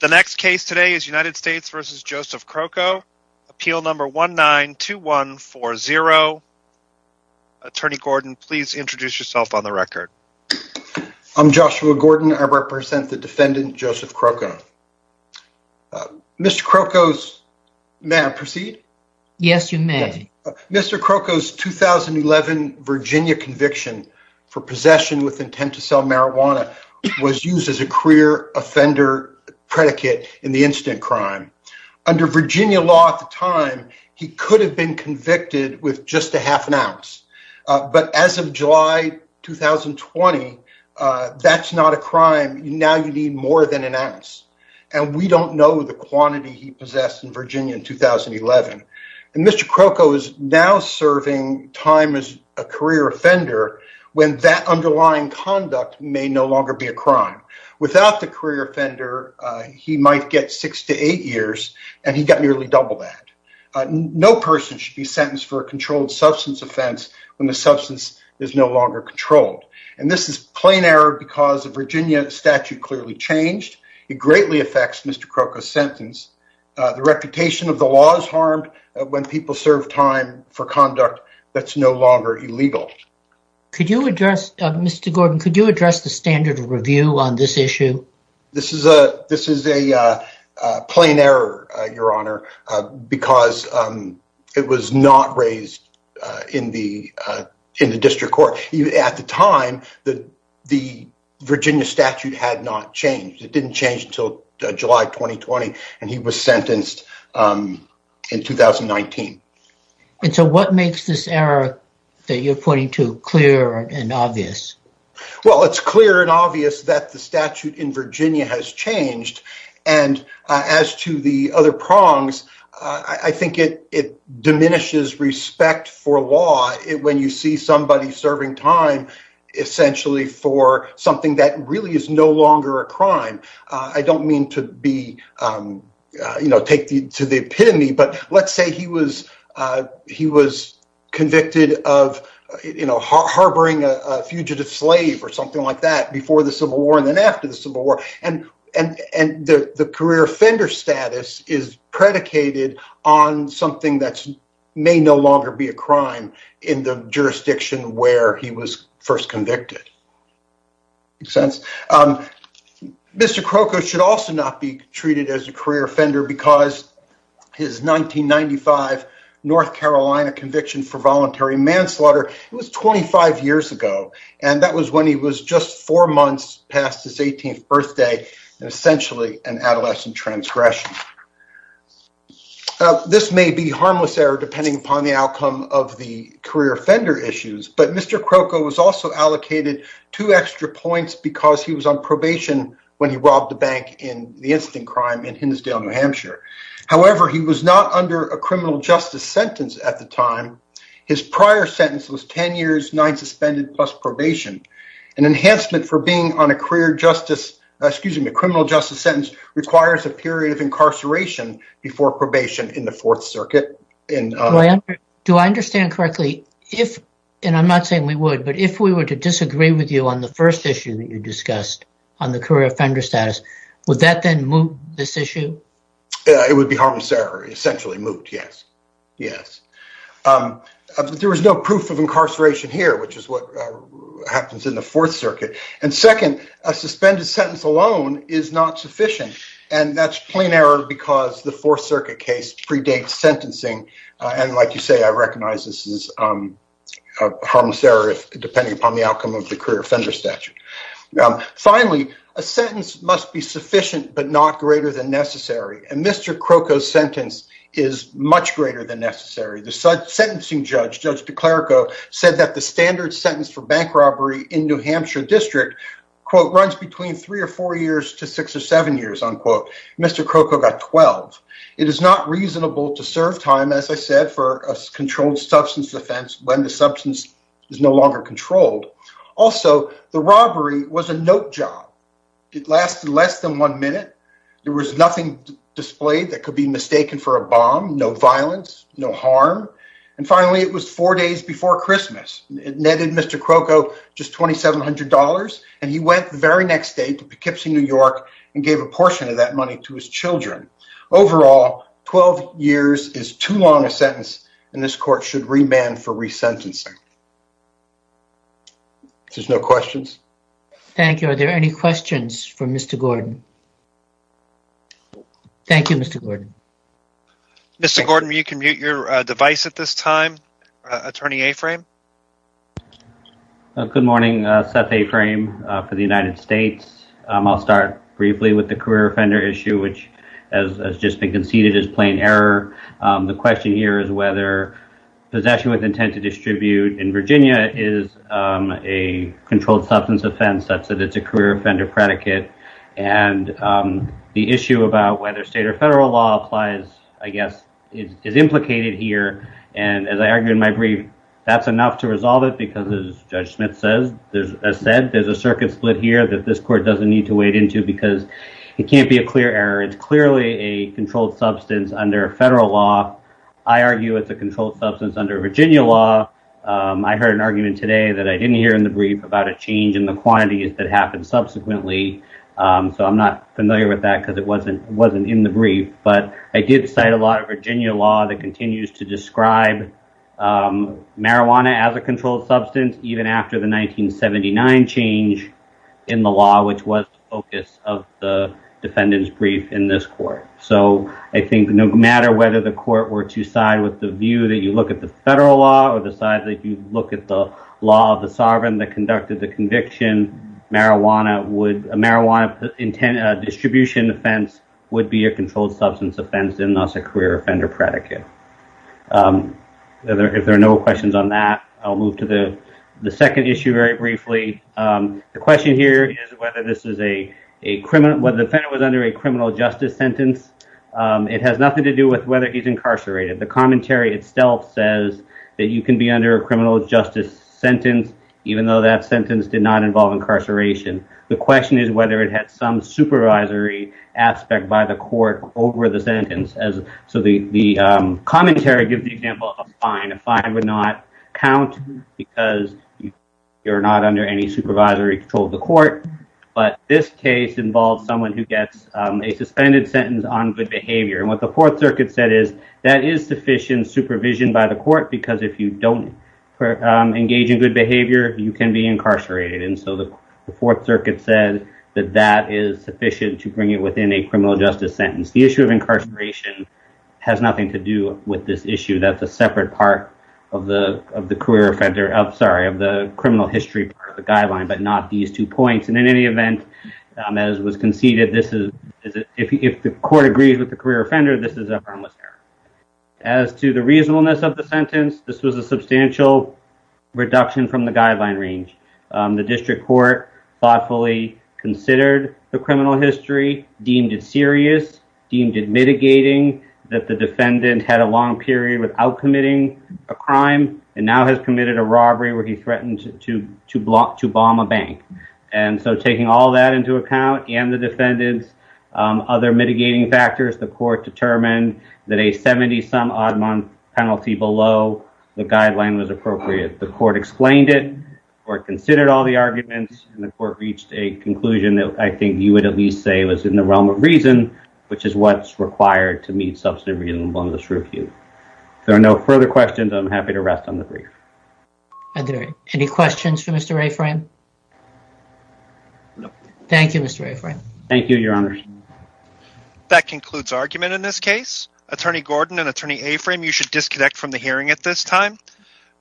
The next case today is United States v. Joseph Crocco, appeal number 192140. Attorney Gordon, please introduce yourself on the record. I'm Joshua Gordon. I represent the defendant, Joseph Crocco. Mr. Crocco's, may I proceed? Yes, you may. Mr. Crocco's 2011 Virginia conviction for possession with intent to sell marijuana was used as a career offender predicate in the incident crime. Under Virginia law at the time, he could have been convicted with just a half an ounce, but as of July 2020, that's not a crime. Now you need more than an ounce, and we don't know the quantity he possessed in Virginia in 2011. And Mr. Crocco is now serving time as a career offender when that underlying conduct may no longer be a crime. Without the career offender, he might get six to eight years, and he got nearly double that. No person should be sentenced for a controlled substance offense when the substance is no longer controlled. And this is plain error because the Virginia statute clearly changed. It greatly affects Mr. Crocco's sentence. The reputation of the law is harmed when people serve time for conduct that's no longer illegal. Could you address, Mr. Gordon, could you address the standard of review on this issue? This is a plain error, your honor, because it was not raised in the district court. At the time, the Virginia statute had not changed. It didn't change until July 2020, and he was sentenced in 2019. And so what makes this error that you're pointing to clear and obvious? Well, it's clear and obvious that the statute in Virginia has changed. And as to the other prongs, I think it diminishes respect for law when you see somebody serving time essentially for something that really is no longer a crime. I don't mean to be, you know, take to the epitome, but let's say he was convicted of harboring a fugitive slave or something like that before the Civil War and then after the Civil War, and the career offender status is predicated on something that may no longer be a crime in the jurisdiction where he was first convicted. Makes sense. Mr. Croco should also not be treated as a career offender because his 1995 North Carolina conviction for voluntary manslaughter, it was 25 years ago, and that was when he was just four months past his 18th birthday and essentially an adolescent transgression. This may be harmless error depending upon the outcome of the career offender issues, but Mr. Croco was also allocated two extra points because he was on probation when he robbed the bank in the incident crime in Hindsdale, New Hampshire. However, he was not under a criminal justice sentence at the time. His prior sentence was ten years, nine suspended plus probation. An enhancement for being on a career justice, excuse me, criminal justice sentence requires a period of incarceration before probation in the Fourth Circuit. Do I understand correctly, if, and I'm not saying we would, but if we were to disagree with you on the first issue that you discussed on the career offender status, would that then move this issue? It would be harmless error, essentially moved, yes. There was no proof of incarceration here, which is what happens in the Fourth Circuit, and second, a suspended sentence alone is not sufficient, and that's plain error because the Fourth Circuit case predates sentencing, and like you say, I recognize this is harmless error depending upon the outcome of the career offender statute. Finally, a sentence must be sufficient but not greater than necessary, and Mr. Croco's sentence is much greater than necessary. The sentencing judge, Judge DeClerco, said that the standard sentence for bank robbery in New Hampshire District, quote, runs between three or four years to six or seven years, unquote. Mr. Croco got 12. It is not reasonable to serve time, as I said, for a controlled substance offense when the substance is no longer controlled. Also, the robbery was a note job. It lasted less than one minute. There was nothing displayed that could be mistaken for a bomb, no violence, no harm, and finally, it was four days before Christmas. It netted Mr. Croco just $2,700, and he went the very next day to Poughkeepsie, New York, and gave a portion of that money to his children. Overall, 12 years is too long a sentence, and this court should remand for resentencing. If there's no questions. Thank you. Are there any questions for Mr. Gordon? Thank you, Mr. Gordon. Mr. Gordon, you can mute your device at this time. Attorney Aframe. Good morning. Seth Aframe for the United States. I'll start briefly with the career offender issue, which has just been conceded as plain error. The question here is whether possession with intent to distribute in Virginia is a controlled substance offense such that it's a career offender predicate, and the issue about whether state or federal law applies, I guess, is to resolve it because, as Judge Smith said, there's a circuit split here that this court doesn't need to wade into because it can't be a clear error. It's clearly a controlled substance under federal law. I argue it's a controlled substance under Virginia law. I heard an argument today that I didn't hear in the brief about a change in the quantities that happened subsequently, so I'm not familiar with that because it wasn't in the brief, but I did cite a lot of Virginia law that continues to describe marijuana as a controlled substance even after the 1979 change in the law, which was the focus of the defendant's brief in this court. I think no matter whether the court were to side with the view that you look at the federal law or the side that you look at the law of the sovereign that conducted the conviction, marijuana distribution offense would be a controlled substance offense and thus a career offender predicate. If there are no questions on that, I'll move to the second issue very briefly. The question here is whether the defendant was under a criminal justice sentence. It has nothing to do with whether he's incarcerated. The commentary itself says that you can be under a criminal justice sentence if you're not under any supervisory control of the court, but this case involves someone who gets a suspended sentence on good behavior. What the Fourth Circuit said is that is sufficient supervision by the court because if you don't engage in good behavior, you can be incarcerated. The Fourth Circuit said that that is sufficient to bring it within a criminal justice sentence. The issue of incarceration has nothing to do with this issue. That's a separate part of the criminal history part of the guideline, but not these two points. In any event, as was conceded, if the court agrees with the career offender, this is a harmless error. As to the reasonableness of the sentence, this was a substantial reduction from the guideline range. The district court thoughtfully considered the criminal history, deemed it serious, deemed it mitigating that the defendant had a long period without committing a crime and now has committed a robbery where he threatened to bomb a bank. Taking all that into account and the defendant's other mitigating factors, the court determined that a 70-some-odd-month penalty below the guideline was appropriate. The court explained it, the court considered all the arguments, and the court reached a conclusion that I think you would at least say was in the realm of reason, which is what's required to meet substantive reasonableness review. If there are no further questions, I'm happy to rest on the brief. Any questions for Mr. Rayframe? Thank you, Mr. Rayframe. Thank you, Your Honor. That concludes argument in this case. Attorney Gordon and Attorney Rayframe, you should disconnect from the hearing at this time.